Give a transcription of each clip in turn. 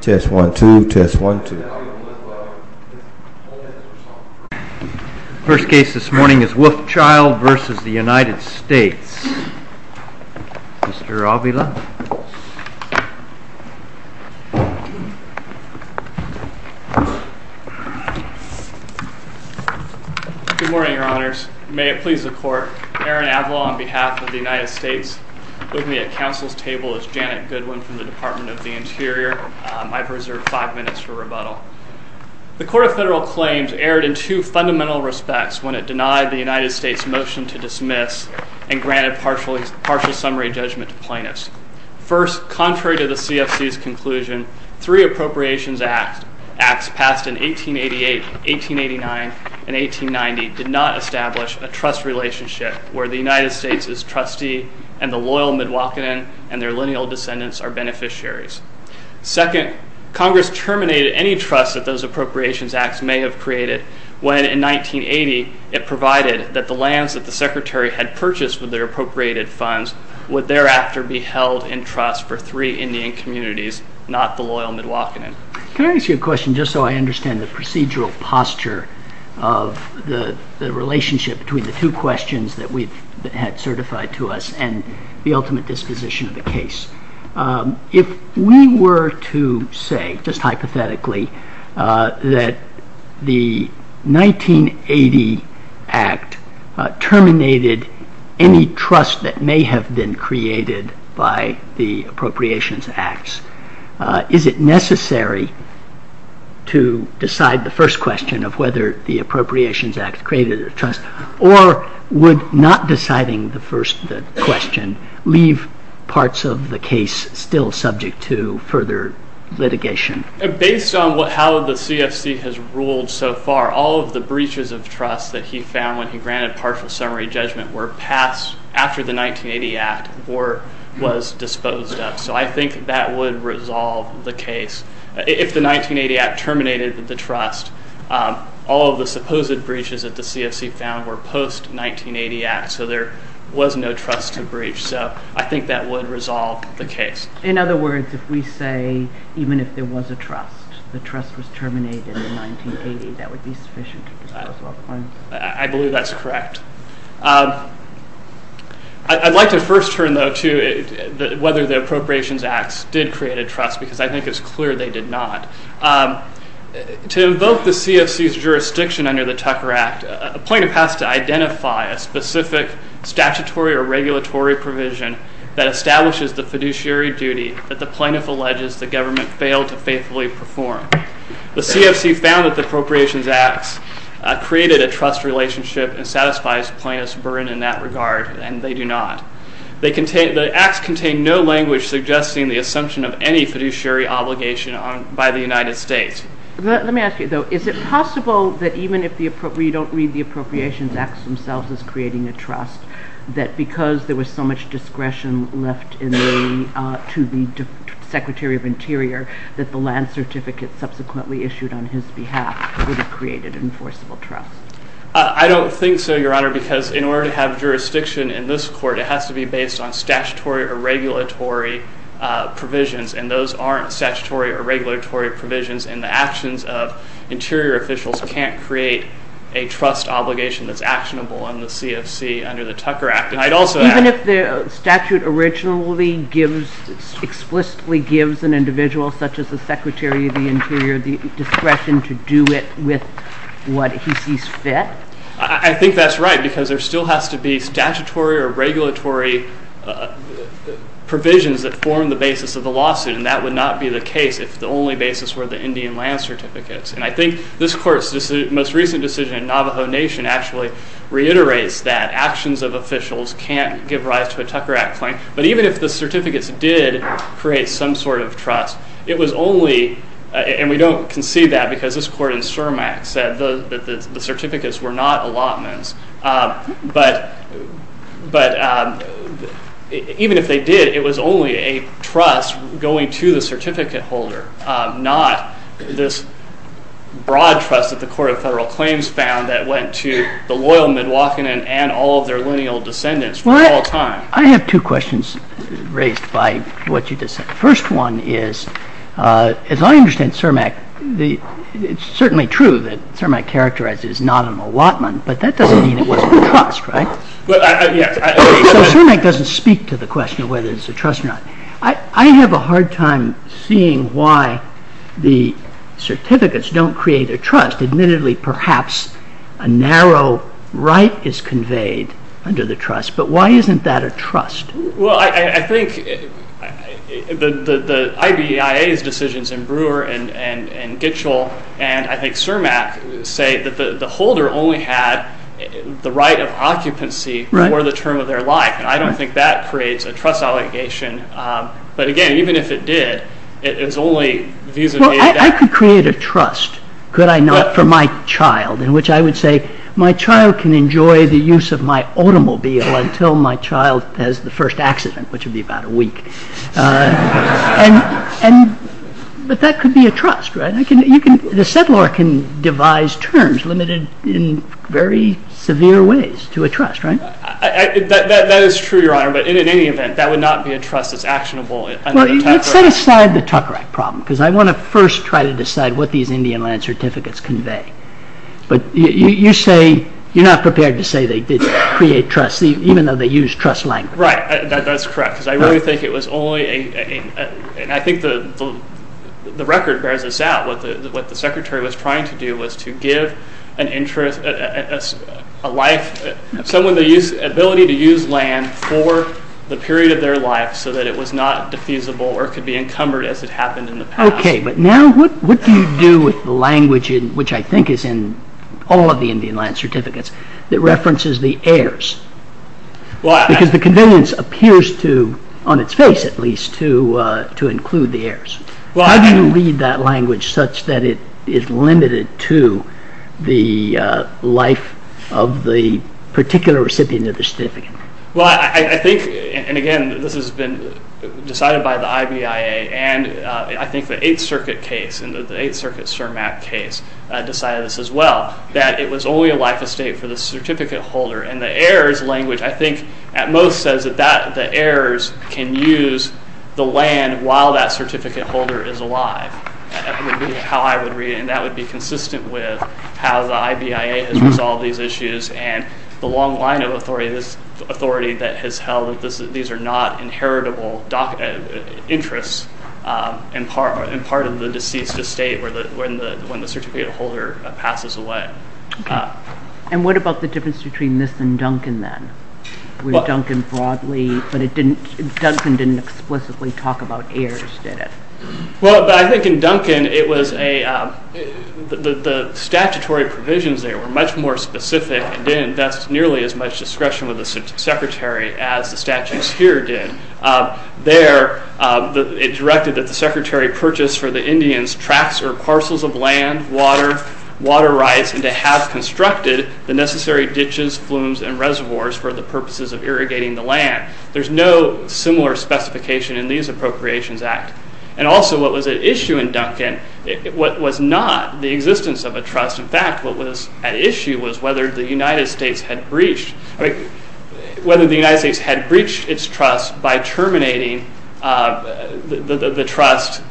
Good morning, Your Honors. May it please the Court, Aaron Avila on behalf of the United States. With me at Council's table is Janet Goodwin from the Department of the Interior. I've reserved five minutes for rebuttal. The Court of Federal Claims erred in two fundamental respects when it denied the United States' motion to dismiss and granted partial summary judgment to plaintiffs. First, contrary to the CFC's conclusion, three appropriations acts passed in 1888, 1889, and 1890 did not establish a trust relationship where the United States' trustee and the loyal Midwakanen and their lineal descendants are beneficiaries. Second, Congress terminated any trust that those appropriations acts may have created when in 1980 it provided that the lands that the Secretary had purchased with their appropriated funds would thereafter be held in trust for three Indian communities, not the loyal Midwakanen. Can I ask you a question just so I understand the procedural posture of the relationship between the two questions that we had certified to us and the ultimate disposition of the case? If we were to say, just hypothetically, that the 1980 Act terminated any trust that may have been created by the appropriations acts, is it necessary to decide the first question of whether the appropriations act created a trust or would not deciding the first question leave parts of the case still subject to further litigation? Based on how the CFC has ruled so far, all of the breaches of trust that he found when he granted partial summary judgment were passed after the 1980 Act or was disposed of. So I think that would resolve the case. If the all of the supposed breaches that the CFC found were post-1980 Act, so there was no trust to breach, so I think that would resolve the case. In other words, if we say even if there was a trust, the trust was terminated in 1980, that would be sufficient? I believe that's correct. I'd like to first turn though to whether the appropriations acts did create a trust because I the CFC's jurisdiction under the Tucker Act, a plaintiff has to identify a specific statutory or regulatory provision that establishes the fiduciary duty that the plaintiff alleges the government failed to faithfully perform. The CFC found that the appropriations acts created a trust relationship and satisfies plaintiff's burden in that regard and they do not. They contain, the acts contain no language suggesting the assumption of any fiduciary obligation on by the United States. Let me ask you though, is it possible that even if the, we don't read the appropriations acts themselves as creating a trust, that because there was so much discretion left in the, to the Secretary of Interior, that the land certificate subsequently issued on his behalf would have created an enforceable trust? I don't think so, Your Honor, because in order to have jurisdiction in this court, it has to be based on statutory or regulatory provisions and those aren't statutory or regulatory provisions and the actions of interior officials can't create a trust obligation that's actionable on the CFC under the Tucker Act. And I'd also add... Even if the statute originally gives, explicitly gives an individual such as the Secretary of the Interior the discretion to do it with what he sees fit? I think that's right because there still has to be statutory or regulatory provisions if the only basis were the Indian land certificates. And I think this court's most recent decision in Navajo Nation actually reiterates that actions of officials can't give rise to a Tucker Act claim. But even if the certificates did create some sort of trust, it was only, and we don't concede that because this court in CERMAC said that the certificates were not allotments, but, but even if they did, it was only a trust going to the certificate holder, not this broad trust that the Court of Federal Claims found that went to the loyal Midwakanen and all of their lineal descendants for all time. Well, I have two questions raised by what you just said. The first one is, as I understand CERMAC, it's certainly true that CERMAC characterizes it as not an allotment, but that doesn't mean it wasn't a trust, right? Well, yes. So CERMAC doesn't speak to the question of whether it's a trust or not. I have a hard time seeing why the certificates don't create a trust. Admittedly, perhaps a narrow right is conveyed under the trust, but why isn't that a trust? Well, I think the IBEIA's decisions in Brewer and Gitchell and I think CERMAC say that the holder only had the right of occupancy for the term of their life, and I don't think that creates a trust allegation. But again, even if it did, it's only vis-a-vis. Well, I could create a trust, could I not, for my child, in which I would say, my child can enjoy the use of my automobile until my child has the first accident, which would be about a week. But that could be a trust, right? The settlor can devise terms limited in very severe ways to a trust, right? That is true, Your Honor, but in any event, that would not be a trust that's actionable. Well, let's set aside the Tucker Act problem, because I want to first try to decide what these Indian land certificates convey. But you say you're not prepared to say they did create trust, even though they use trust language. Right, that's correct, because I really think it was only, and I think the record bears this out, what the Secretary was trying to do was to give an interest, a life, someone the ability to use land for the period of their life so that it was not defeasible or could be encumbered as it happened in the past. Okay, but now what do you do with the language, which I think is in all of the Indian land certificates, that references the heirs? Because the convenience appears to, on its face at least, to include the heirs. How do you read that language such that it is limited to the life of the particular recipient of the certificate? Well, I think, and again, this has been decided by the IBIA and I think the Eighth Circuit case, and the Eighth Circuit CIRMAP case decided this as well, that it was only a life estate for the certificate holder, and the heirs language, I think at most says that the heirs can use the land while that certificate holder is alive. That would be how I would read it, and that would be consistent with how the IBIA has resolved these issues and the long line of authority that has held that these are not inheritable interests and part of the deceased estate when the certificate holder passes away. And what about the difference between this and Duncan then? With Duncan broadly, but it didn't, Duncan didn't explicitly talk about heirs, did it? Well, I think in Duncan it was a, the statutory provisions there were much more specific and didn't invest nearly as much discretion with the Secretary as the statutes here did. There it directed that the Secretary purchase for the Indians tracts or parcels of land, water, water rights, and to have constructed the necessary similar specification in these Appropriations Act, and also what was at issue in Duncan, what was not the existence of a trust, in fact what was at issue was whether the United States had breached, whether the United States had breached its trust by terminating the trust,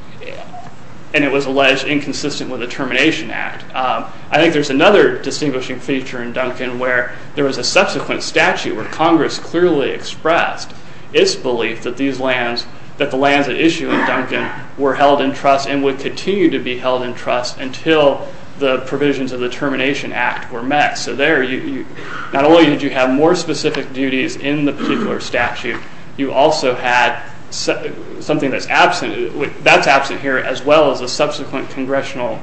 and it was alleged inconsistent with the Termination Act. I think there's another distinguishing feature in Duncan where there was a subsequent statute where Congress clearly expressed its belief that these lands, that the lands at issue in Duncan were held in trust and would continue to be held in trust until the provisions of the Termination Act were met. So there you, not only did you have more specific duties in the particular statute, you also had something that's absent, that's absent here as well as a subsequent congressional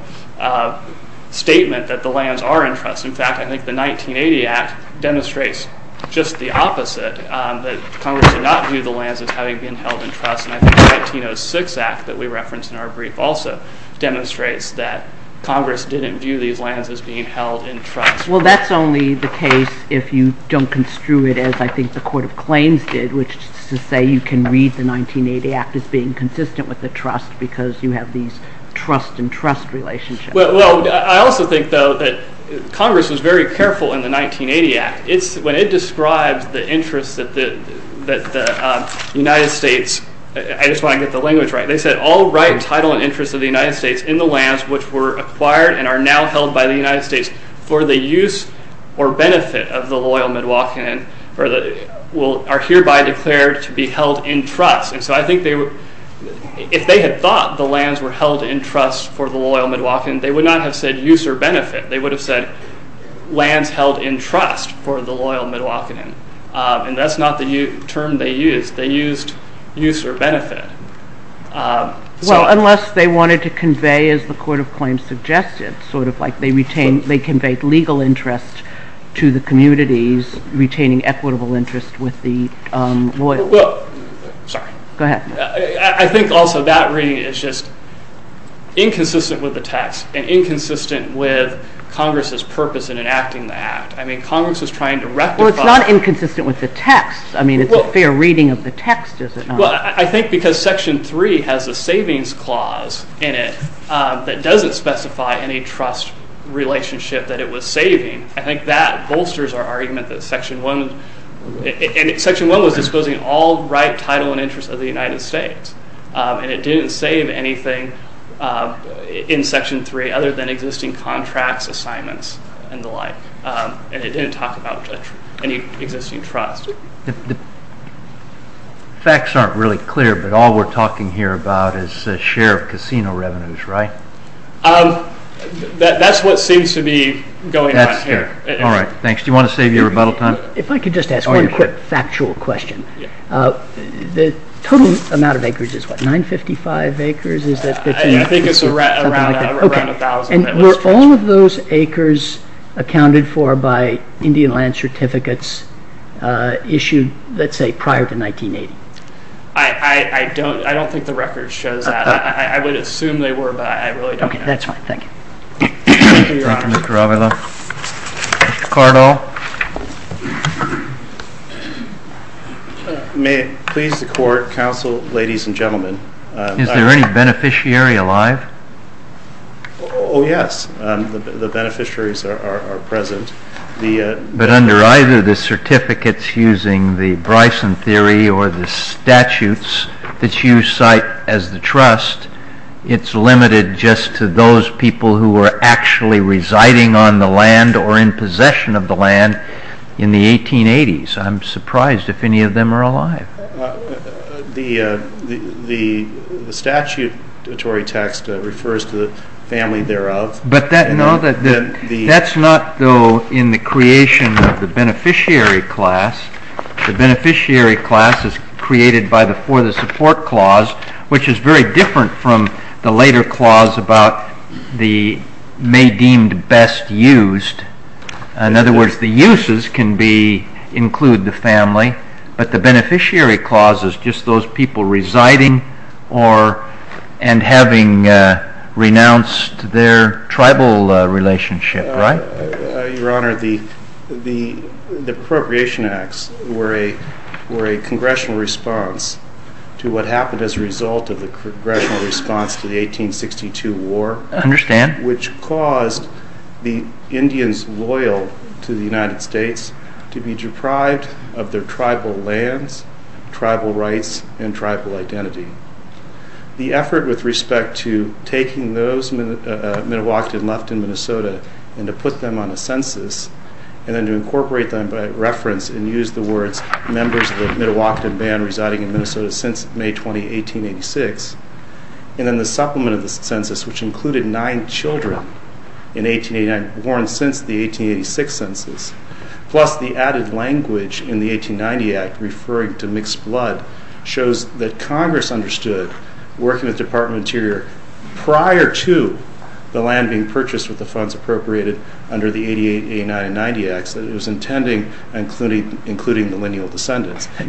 statement that the lands are in trust. In fact, I think the 1980 Act demonstrates just the opposite that Congress did not view the lands as having been held in trust, and I think the 1906 Act that we referenced in our brief also demonstrates that Congress didn't view these lands as being held in trust. Well, that's only the case if you don't construe it as I think the Court of Claims did, which is to say you can read the 1980 Act as being consistent with the trust because you have these trust and trust relationships. Well, I also think though that Congress was very careful in the 1980 Act. It's when it describes the interests that the United States, I just want to get the language right, they said all right title and interests of the United States in the lands which were acquired and are now held by the United States for the use or benefit of the loyal Midwalkin will are hereby declared to be held in trust, and so I think they were, if they had thought the lands were held in trust for the loyal Midwalkin, they would not have said use or benefit. They would have said lands held in trust for the loyal Midwalkin, and that's not the term they used. They used use or benefit. Well, unless they wanted to convey as the Court of Claims suggested, sort of like they retained, they conveyed legal interest to the communities retaining equitable interest with the loyal. Sorry. Go ahead. I think also that reading is just inconsistent with Congress's purpose in enacting the Act. I mean Congress is trying to rectify. Well, it's not inconsistent with the text. I mean it's a fair reading of the text, is it not? Well, I think because Section 3 has a savings clause in it that doesn't specify any trust relationship that it was saving. I think that bolsters our argument that Section 1, and Section 1 was disposing all right title and interest of the United States, and it didn't save anything in Section 3 other than existing contracts, assignments, and the like, and it didn't talk about any existing trust. Facts aren't really clear, but all we're talking here about is a share of casino revenues, right? That's what seems to be going on here. All right, thanks. Do you want to save your rebuttal time? If I could just ask one quick factual question. The total amount of acres is what, 955 acres? I think it's around a thousand. Were all of those acres accounted for by Indian land certificates issued, let's say, prior to 1980? I don't think the record shows that. I would assume they were, but I really don't know. Okay, that's fine, thank you. Thank you, Your Honor. Thank you, Mr. Raveloff. Mr. Cardall? May it please the Court, Counsel, ladies and gentlemen. Is there any beneficiary alive? Oh yes, the beneficiaries are present. But under either the certificates using the Bryson theory or the statutes that you cite as the trust, it's limited just to those people who were actually residing on the land or in possession of the land in the 1880s. I'm surprised if any of them are alive. The statutory text refers to the family thereof. But that's not, though, in the creation of the beneficiary class. The beneficiary class is created by the For the Support Clause, which is very different from the later clause about the may deemed best used. In other words, the uses can include the family, but the beneficiary clause is just those people residing and having renounced their tribal relationship, right? Your Honor, the Appropriation Acts were a congressional response to what happened as a result of the congressional response to the 1862 war, which caused the Indians loyal to the United States to be deprived of their tribal lands, tribal rights, and tribal identity. The effort with respect to taking those Midewakanton left in Minnesota and to put them on a census and then to incorporate them by reference and use the words members of the Midewakanton Band residing in Minnesota since May 20, 1886, and then the supplement of the census, which included nine children born since the 1886 census, plus the added language in the 1890 Act referring to mixed blood, shows that Congress understood, working with Department of Interior, prior to the land being purchased with the funds appropriated under the 1889 and 1890 Acts, that it was intending including the lineal descendants. I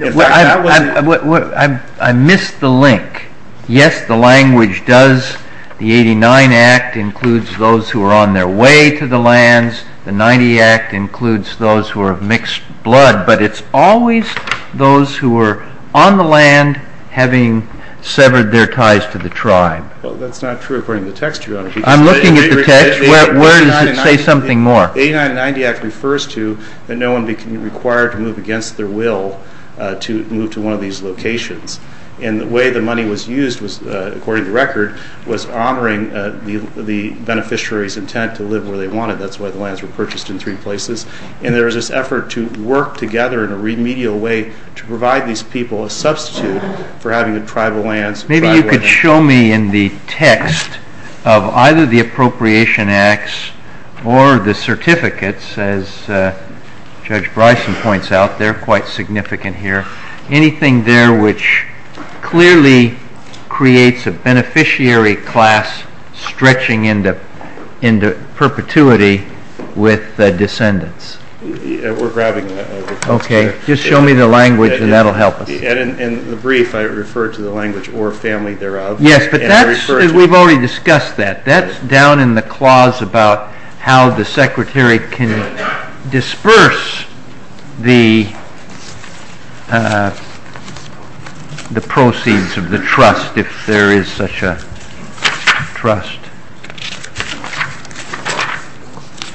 missed the link. Yes, the language does, the 89 Act includes those who are on their way to the lands, the 90 Act includes those who are of mixed blood, but it's always those who are on the land having severed their ties to the tribe. Well, that's not true according to the text, Your Honor. I'm looking at the text. Where does it say something more? The 1890 Act refers to that no one became required to move against their will to move to one of these locations, and the way the money was used was, according to record, was honoring the beneficiary's intent to live where they wanted. That's why the lands were purchased in three places, and there was this effort to work together in a remedial way to provide these people a substitute for having the tribal lands. Maybe you could show me in the text of either the Appropriation Acts or the certificates, as Judge Bryson points out, they're quite significant here, anything there which clearly creates a beneficiary class stretching into perpetuity with the descendants. We're grabbing the text. Okay, just show me the language and that'll help us. In the brief, I refer to the language, or family thereof. Yes, but that's, we've already discussed that, that's down in the clause about how the Secretary can disperse the proceeds of the trust if there is such a trust.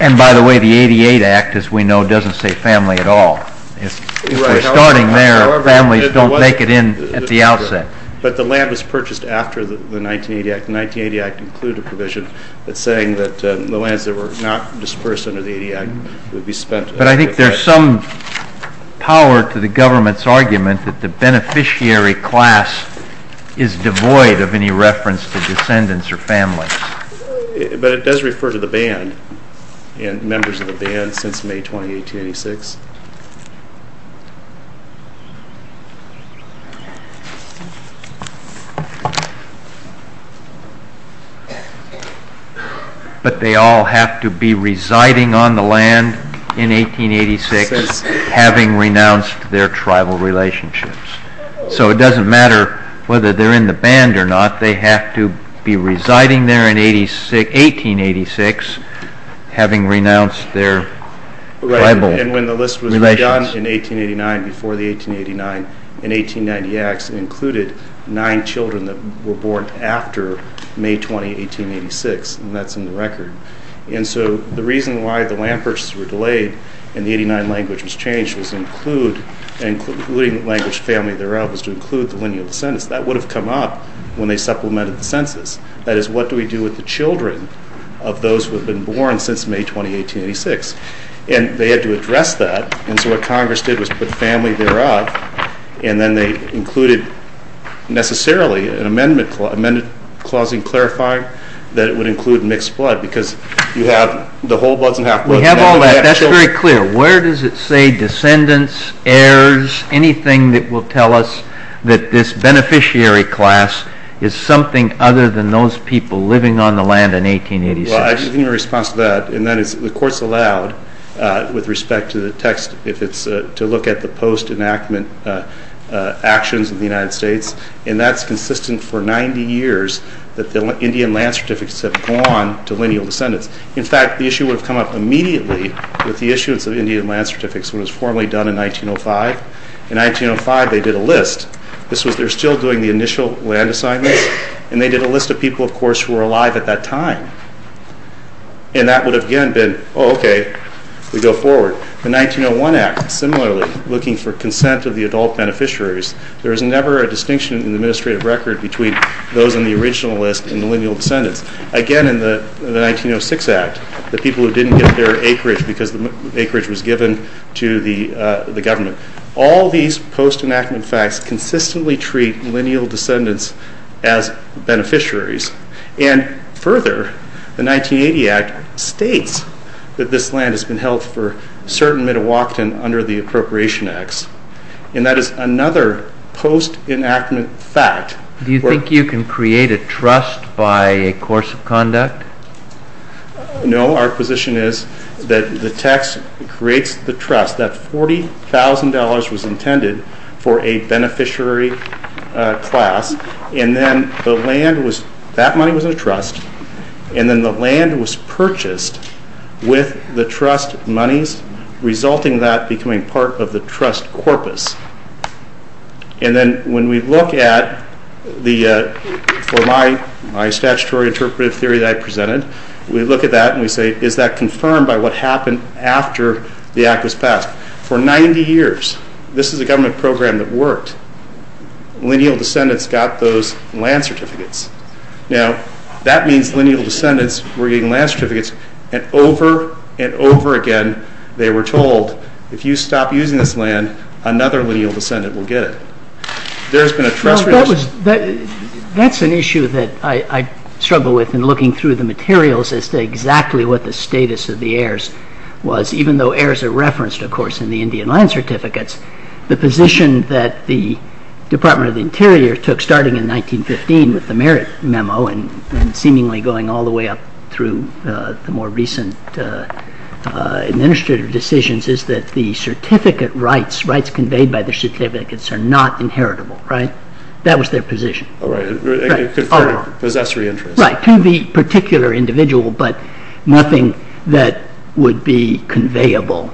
And by the way, the 1988 Act, as we know, doesn't say family at all. If we're starting there, families don't make it in at the outset. But the land was purchased after the 1980 Act. The 1980 Act included a provision that's saying that the lands that were not dispersed under the 80 Act would be spent. But I think there's some power to the government's argument that the beneficiary class is devoid of any reference to descendants or families. But it does refer to the band and members of the band since May 20, 1886. But they all have to be residing on the land in 1886, having renounced their tribal relationships. So it doesn't matter whether they're in the band or not, they have to be residing there in 1886, having renounced their tribal relationships. Right, and when the list was done in 1889, before the 1889 and 1890 Acts, it included nine children that were born after May 20, 1886, and that's in the record. And so the reason why the land purchases were delayed and the 89 language was changed was to include, including the language family thereof, was to include the lineal descendants. That would have come up when they supplemented the census. That is, what do we do with the children of those who have been born since May 20, 1886? And they had to address that, and so what Congress did was put family thereof, and then they included, necessarily, an amendment clause, an amended clausing clarifying that it would include mixed blood, because you have the whole bloods and half-bloods. We have all that, that's very clear. Where does it say descendants, heirs, anything that will tell us that this beneficiary class is something other than those people living on the land in 1886? Well, I can give you a response to that, and that is the Court's allowed, with respect to the text, if it's to look at the post enactment actions of the United States, and that's consistent for 90 years that the Indian Land Certificates have gone to lineal descendants. In fact, the issue would have come up immediately with the issuance of Indian Land Certificates when it was formally done in 1905. In 1905, they did a list. This was, they're still doing the initial land assignments, and they did a list of people, of course, who were alive at that time, and that would have, again, been, oh, okay, we go forward. The 1901 Act, similarly, looking for consent of the adult beneficiaries. There is never a distinction in the administrative record between those on the original list and lineal descendants. Again, in the 1906 Act, the people who didn't get their acreage because the acreage was given to the government. All these post enactment facts consistently treat lineal descendants as beneficiaries, and further, the 1980 Act states that this land has been held for a certain amount of walk-in under the Appropriation Acts, and that is another post enactment fact. Do you think you can create a trust by a course of conduct? No. Our position is that the tax creates the trust. That $40,000 was intended for a beneficiary class, and then the land was, that money was in a trust, and then the land was purchased with the trust monies, resulting in that becoming part of the trust corpus. And then when we look at the, for my statutory interpretive theory that I presented, we look at that and we say, is that confirmed by what happened after the Act was passed? For 90 years, this is a government program that worked. Lineal descendants got those land certificates. Now, that means lineal descendants were getting land certificates, and over and over again they were told, if you stop using this land, another lineal descendant will get it. There has been a trust relationship. That's an issue that I struggle with in looking through the materials as to exactly what the status of the heirs was, even though heirs are referenced, of course, in the Indian land certificates. The position that the Department of the Interior took starting in 1915 with the merit memo and seemingly going all the way up through the more recent administrative decisions is that the certificate rights, rights conveyed by the certificates, are not inheritable, right? That was their position. Oh, right. Possessory interest. Right. To the particular individual, but nothing that would be conveyable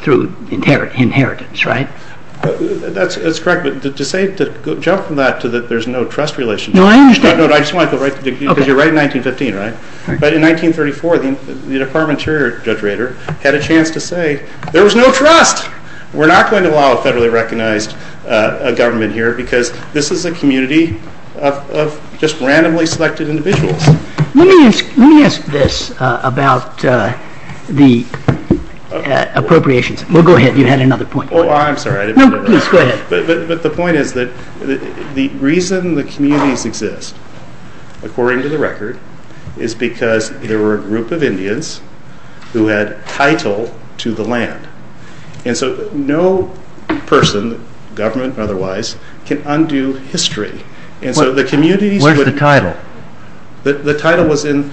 through inheritance, right? That's correct, but to say, to jump from that to that there's no trust relationship. No, I understand. No, I just want to go right, because you're right in 1915, right? But in 1934, the Department of There was no trust. We're not going to allow a federally recognized government here, because this is a community of just randomly selected individuals. Let me ask this about the appropriations. Well, go ahead, you had another point. Oh, I'm sorry. No, please, go ahead. But the point is that the reason the communities exist, according to the record, is because there were a group of Indians who had title to the land. And so no person, government or otherwise, can undo history. And so the communities... Where's the title? The title was in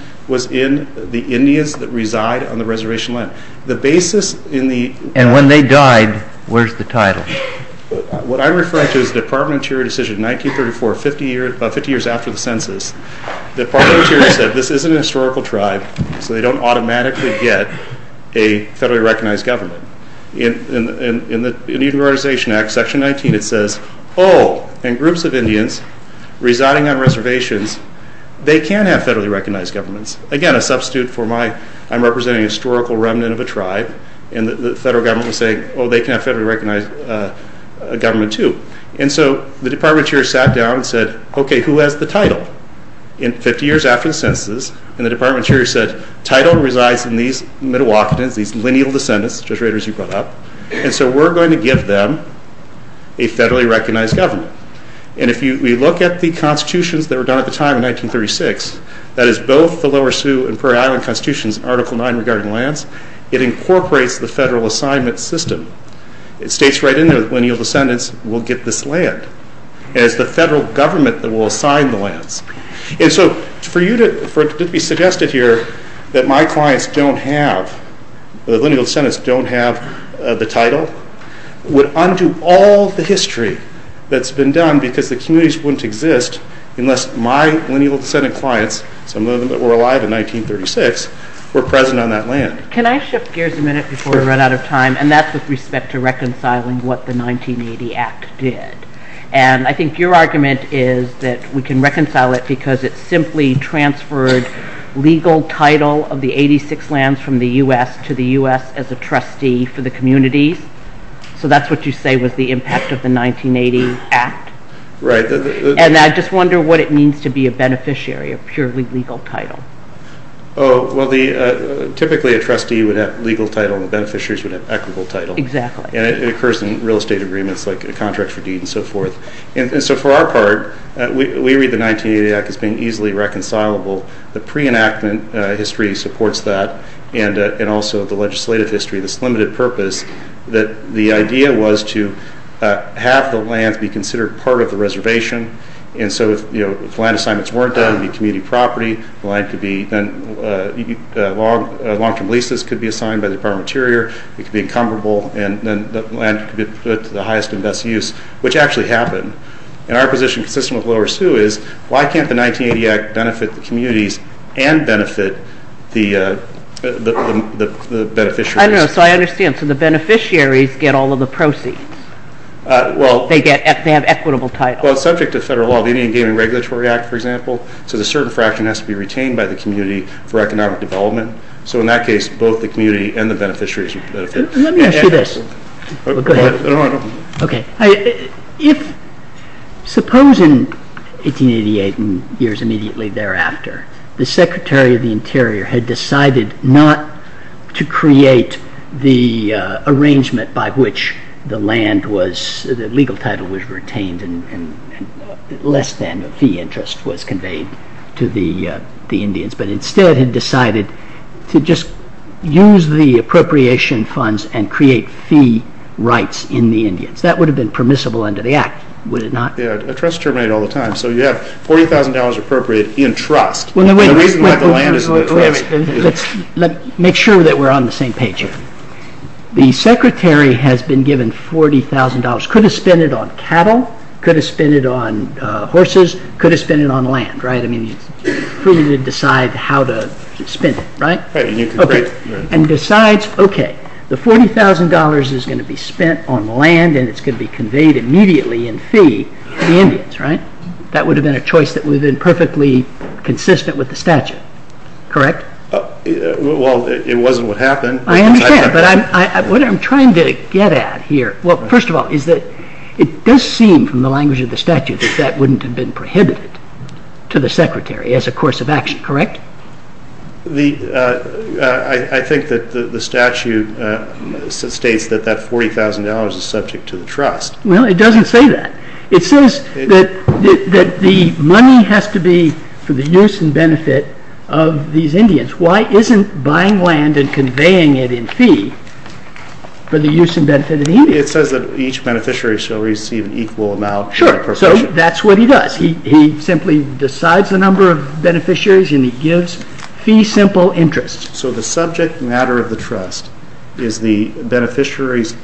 the Indians that reside on the reservation land. The basis in the... And when they died, where's the title? What I'm referring to is the Department of Interior decision in 1934, about 50 years after the census, the Department of Interior said, this isn't a historical tribe, so they don't automatically get a federally recognized government. In the Unionization Act, section 19, it says, oh, and groups of Indians residing on reservations, they can have federally recognized governments. Again, a substitute for my... I'm representing a historical remnant of a tribe, and the federal government was saying, oh, they can have federally recognized government too. And so the Department of Interior sat down and said, okay, who has the title? In 50 years after the census, and the Department of Interior said, title resides in these Midewakernans, these lineal descendants, Judge Raiders, you brought up, and so we're going to give them a federally recognized government. And if we look at the constitutions that were done at the time in 1936, that is both the Lower Sioux and Prairie Island constitutions, Article 9 regarding lands, it incorporates the federal assignment system. It states right in there that lineal descendants will get this land, and it's the federal government that will assign the lands. And so for it to be suggested here that my clients don't have, the lineal descendants don't have the title, would undo all the history that's been done because the communities wouldn't exist unless my lineal descendant clients, some of them that were alive in 1936, were present on that land. Can I shift gears a minute before we run out of time, and that's with respect to reconciling what the 1980 Act did. And I think your argument is that we can reconcile it because it simply transferred legal title of the 86 lands from the U.S. to the U.S. as a trustee for the communities. So that's what you say was the impact of the 1980 Act. Right. And I just wonder what it means to be a beneficiary, a purely legal title. Oh, well, typically a trustee would have legal title and the beneficiaries would have equitable title. Exactly. And it occurs in real estate agreements like a contract for deed and so forth. And so for our part, we read the 1980 Act as being easily reconcilable. The pre-enactment history supports that, and also the legislative history, this limited purpose that the idea was to have the lands be considered part of the reservation. And so if land assignments weren't done, it would be community property. Long-term leases could be assigned by the Department of Interior. It could be incomparable, and then the land could be put to the highest and best use, which actually happened. And our position, consistent with Laura's too, is why can't the 1980 Act benefit the communities and benefit the beneficiaries? I don't know. So I understand. So the beneficiaries get all of the proceeds. They have equitable title. Well, subject to federal law, the Indian Game and Regulatory Act, for example, says a certain fraction has to be retained by the community for economic development. So in that case, both the community and the beneficiaries would benefit. Let me ask you this. Go ahead. Okay. If, suppose in 1888 and years immediately thereafter, the Secretary of the Interior had decided not to create the arrangement by which the land was, the legal title was retained and less than a fee interest was conveyed to the Indians, but instead had decided to just use the appropriation funds and create fee rights in the Indians. That would have been permissible under the Act, would it not? Yeah, trusts terminate all the time. So you have $40,000 appropriated in trust. Let's make sure that we're on the same page here. The Secretary has been given $40,000. Could have spent it on cattle, could have spent it on horses, could have spent it on land, right? I mean, it's for you to decide how to spend it, right? And decides, okay, the $40,000 is going to be spent on land and it's going to be conveyed immediately in fee to the Indians, right? That would have been a choice that would have been perfectly consistent with the statute, correct? Well, it wasn't what happened. I understand, but what I'm trying to get at here, well, first of all, is that it does seem from the language of the statute that that wouldn't have been prohibited to the Secretary as a course of action, correct? I think that the statute states that that $40,000 is subject to the trust. Well, it doesn't say that. It says that the money has to be for the use and benefit of these Indians. Why isn't buying land and It says that each beneficiary shall receive an equal amount. Sure. So that's what he does. He simply decides the number of beneficiaries and he gives fee simple interest. So the subject matter of the trust is the beneficiary's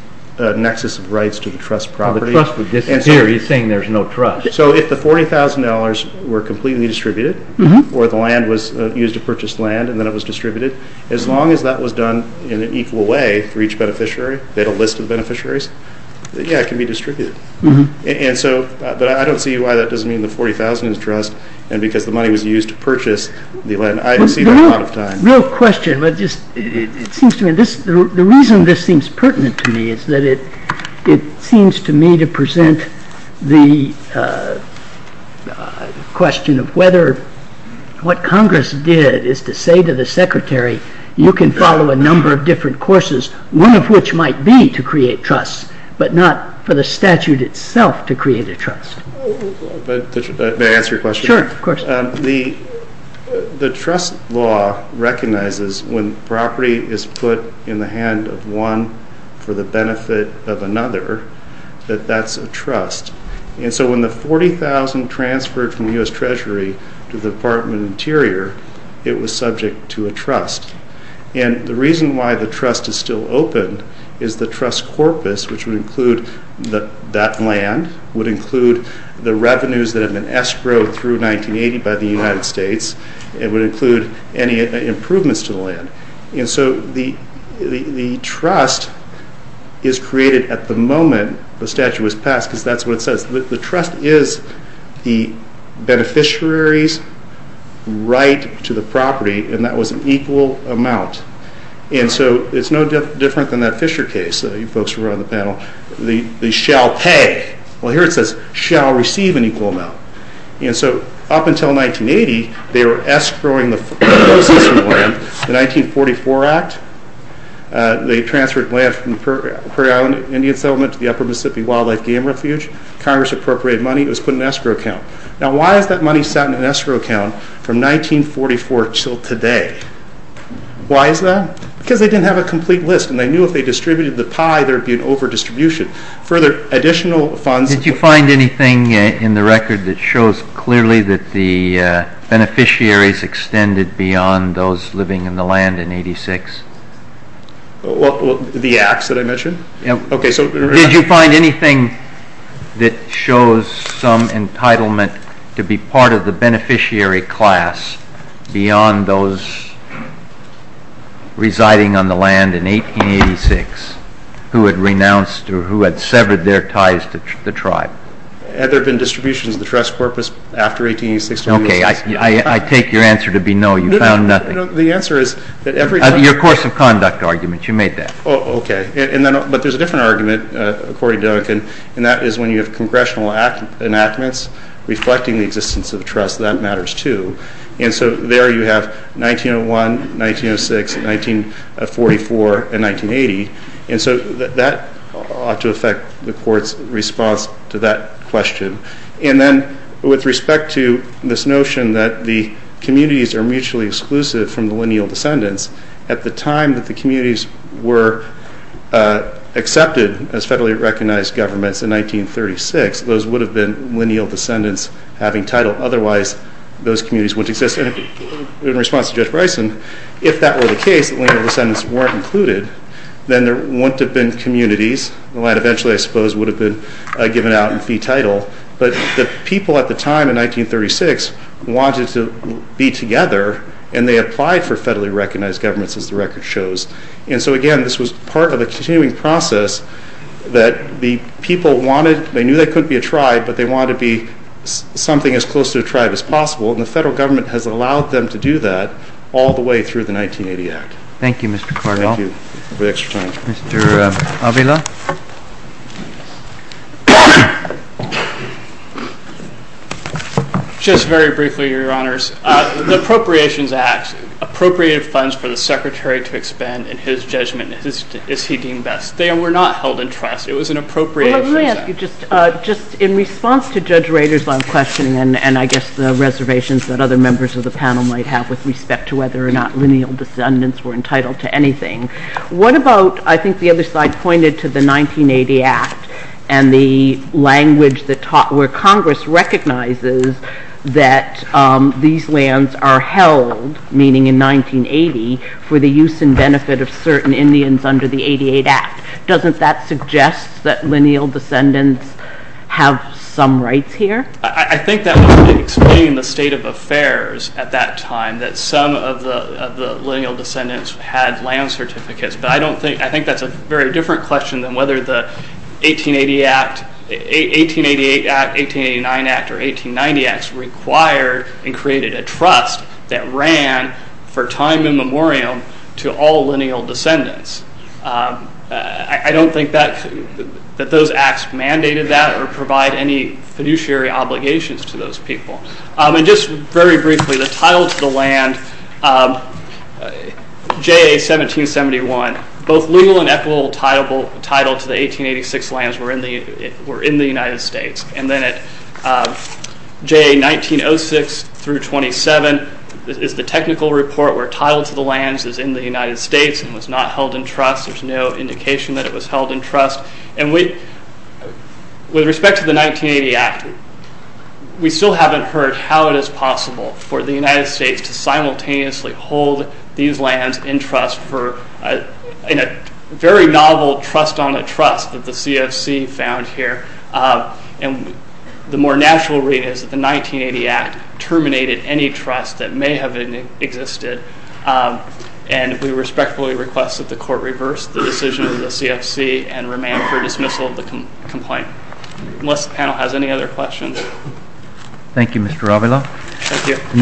nexus of rights to the trust property. He's saying there's no trust. So if the $40,000 were completely distributed or the land was used to purchase land and then it was distributed, as long as that was done in an equal way for each beneficiary, they had a list of beneficiaries, yeah, it can be distributed. And so, but I don't see why that doesn't mean the $40,000 is trust and because the money was used to purchase the land. I don't see that a lot of times. Real question, but just it seems to me, the reason this seems pertinent to me is that it seems to me to present the question of whether what Congress did is to say to the to create trust, but not for the statute itself to create a trust. May I answer your question? Sure, of course. The trust law recognizes when property is put in the hand of one for the benefit of another, that that's a trust. And so when the $40,000 transferred from the U.S. Treasury to the Department of Interior, it was subject to a trust. And the reason why the trust is still open is the trust corpus, which would include that land, would include the revenues that have been escrowed through 1980 by the United States, and would include any improvements to the land. And so the trust is created at the moment the statute was passed because that's what it says. The trust is the beneficiary's right to the property and that was an equal amount. And so it's no different than that Fisher case. You folks were on the panel. They shall pay. Well, here it says shall receive an equal amount. And so up until 1980, they were escrowing the proceeds from the land. The 1944 Act, they transferred land from the Prairie Island Indian Settlement to the Upper Mississippi Wildlife Game Refuge. Congress appropriated money. It was put in an escrow account. Now why is that money sat in an escrow account from 1944 till today? Why is that? Because they didn't have a complete list and they knew if they distributed the pie, there'd be an overdistribution. Further, additional funds... Did you find anything in the record that shows clearly that the beneficiaries extended beyond those living in the land in 86? The acts that I mentioned? Yeah. Okay, so... Did you find anything that shows some entitlement to be part of the beneficiary class beyond those residing on the land in 1886 who had renounced or who had severed their ties to the tribe? Had there been distributions of the trust corpus after 1886? Okay, I take your answer to be no. You found nothing. The answer is that every... Your course of conduct argument. You made that. Oh, okay. And then, but there's a different argument, according to Duncan, and that is when you have congressional enactments reflecting the existence of trust, that matters too. And so there you have 1901, 1906, 1944, and 1980. And so that ought to affect the court's response to that question. And then, with respect to this notion that the communities are mutually exclusive from the lineal descendants, at the time that the communities were accepted as federally recognized governments in 1936, those would have been lineal descendants having title. Otherwise, those communities wouldn't exist. In response to Judge Bryson, if that were the case, the lineal descendants weren't included, then there wouldn't have been communities. The land eventually, I suppose, would have been given out in fee title. But the people at the time in 1936 wanted to be together, and they applied for federally recognized governments, as the record shows. And so again, this was part of a continuing process that the people wanted, they knew they couldn't be a tribe, but they wanted to be something as close to a tribe as possible. And the federal government has allowed them to do that all the way through the 1980 Act. Thank you, Mr. Cardinal. Thank you for the extra time. Mr. Avila. Just very briefly, Your Honors. The Appropriations Act appropriated funds for the Secretary to expand in his judgment, as he deemed best. They were not held in trust. It was an appropriations act. Well, let me ask you, just in response to Judge Rader's question, and I guess the reservations that other members of the panel might have with respect to whether or not lineal descendants were entitled to anything, what about, I think the other side pointed to the 1980 Act, and the language that taught where Congress recognizes that these lands are held, meaning in 1980, for the use and benefit of certain Indians under the 88 Act. Doesn't that suggest that lineal descendants have some rights here? I think that would explain the state of affairs at that time, that some of the lineal descendants had land certificates, but I don't think, I think that's a very different question than whether the 1888 Act, 1889 Act, or 1890 Acts required and created a trust that ran for time and memoriam to all lineal descendants. I don't think that those acts mandated that or provide any fiduciary obligations to those people, and just very briefly, the title to the land, JA 1771, both legal and equitable title to the 1886 lands were in the United States, and then at JA 1906 through 27 is the technical report where title to the lands is in the United States and was not held in trust. There's no indication that it was held in trust, and with respect to the 1980 Act, we still haven't heard how it is possible for the United States to simultaneously hold these lands in trust for, in a very novel trust on a trust of the CFC found here, and the more natural read is that the 1980 Act terminated any trust that may have existed, and we respectfully request that the court reverse the decision of the CFC and remain for dismissal of the complaint. Unless the panel has any other questions. Thank you Mr. Avila. Thank you.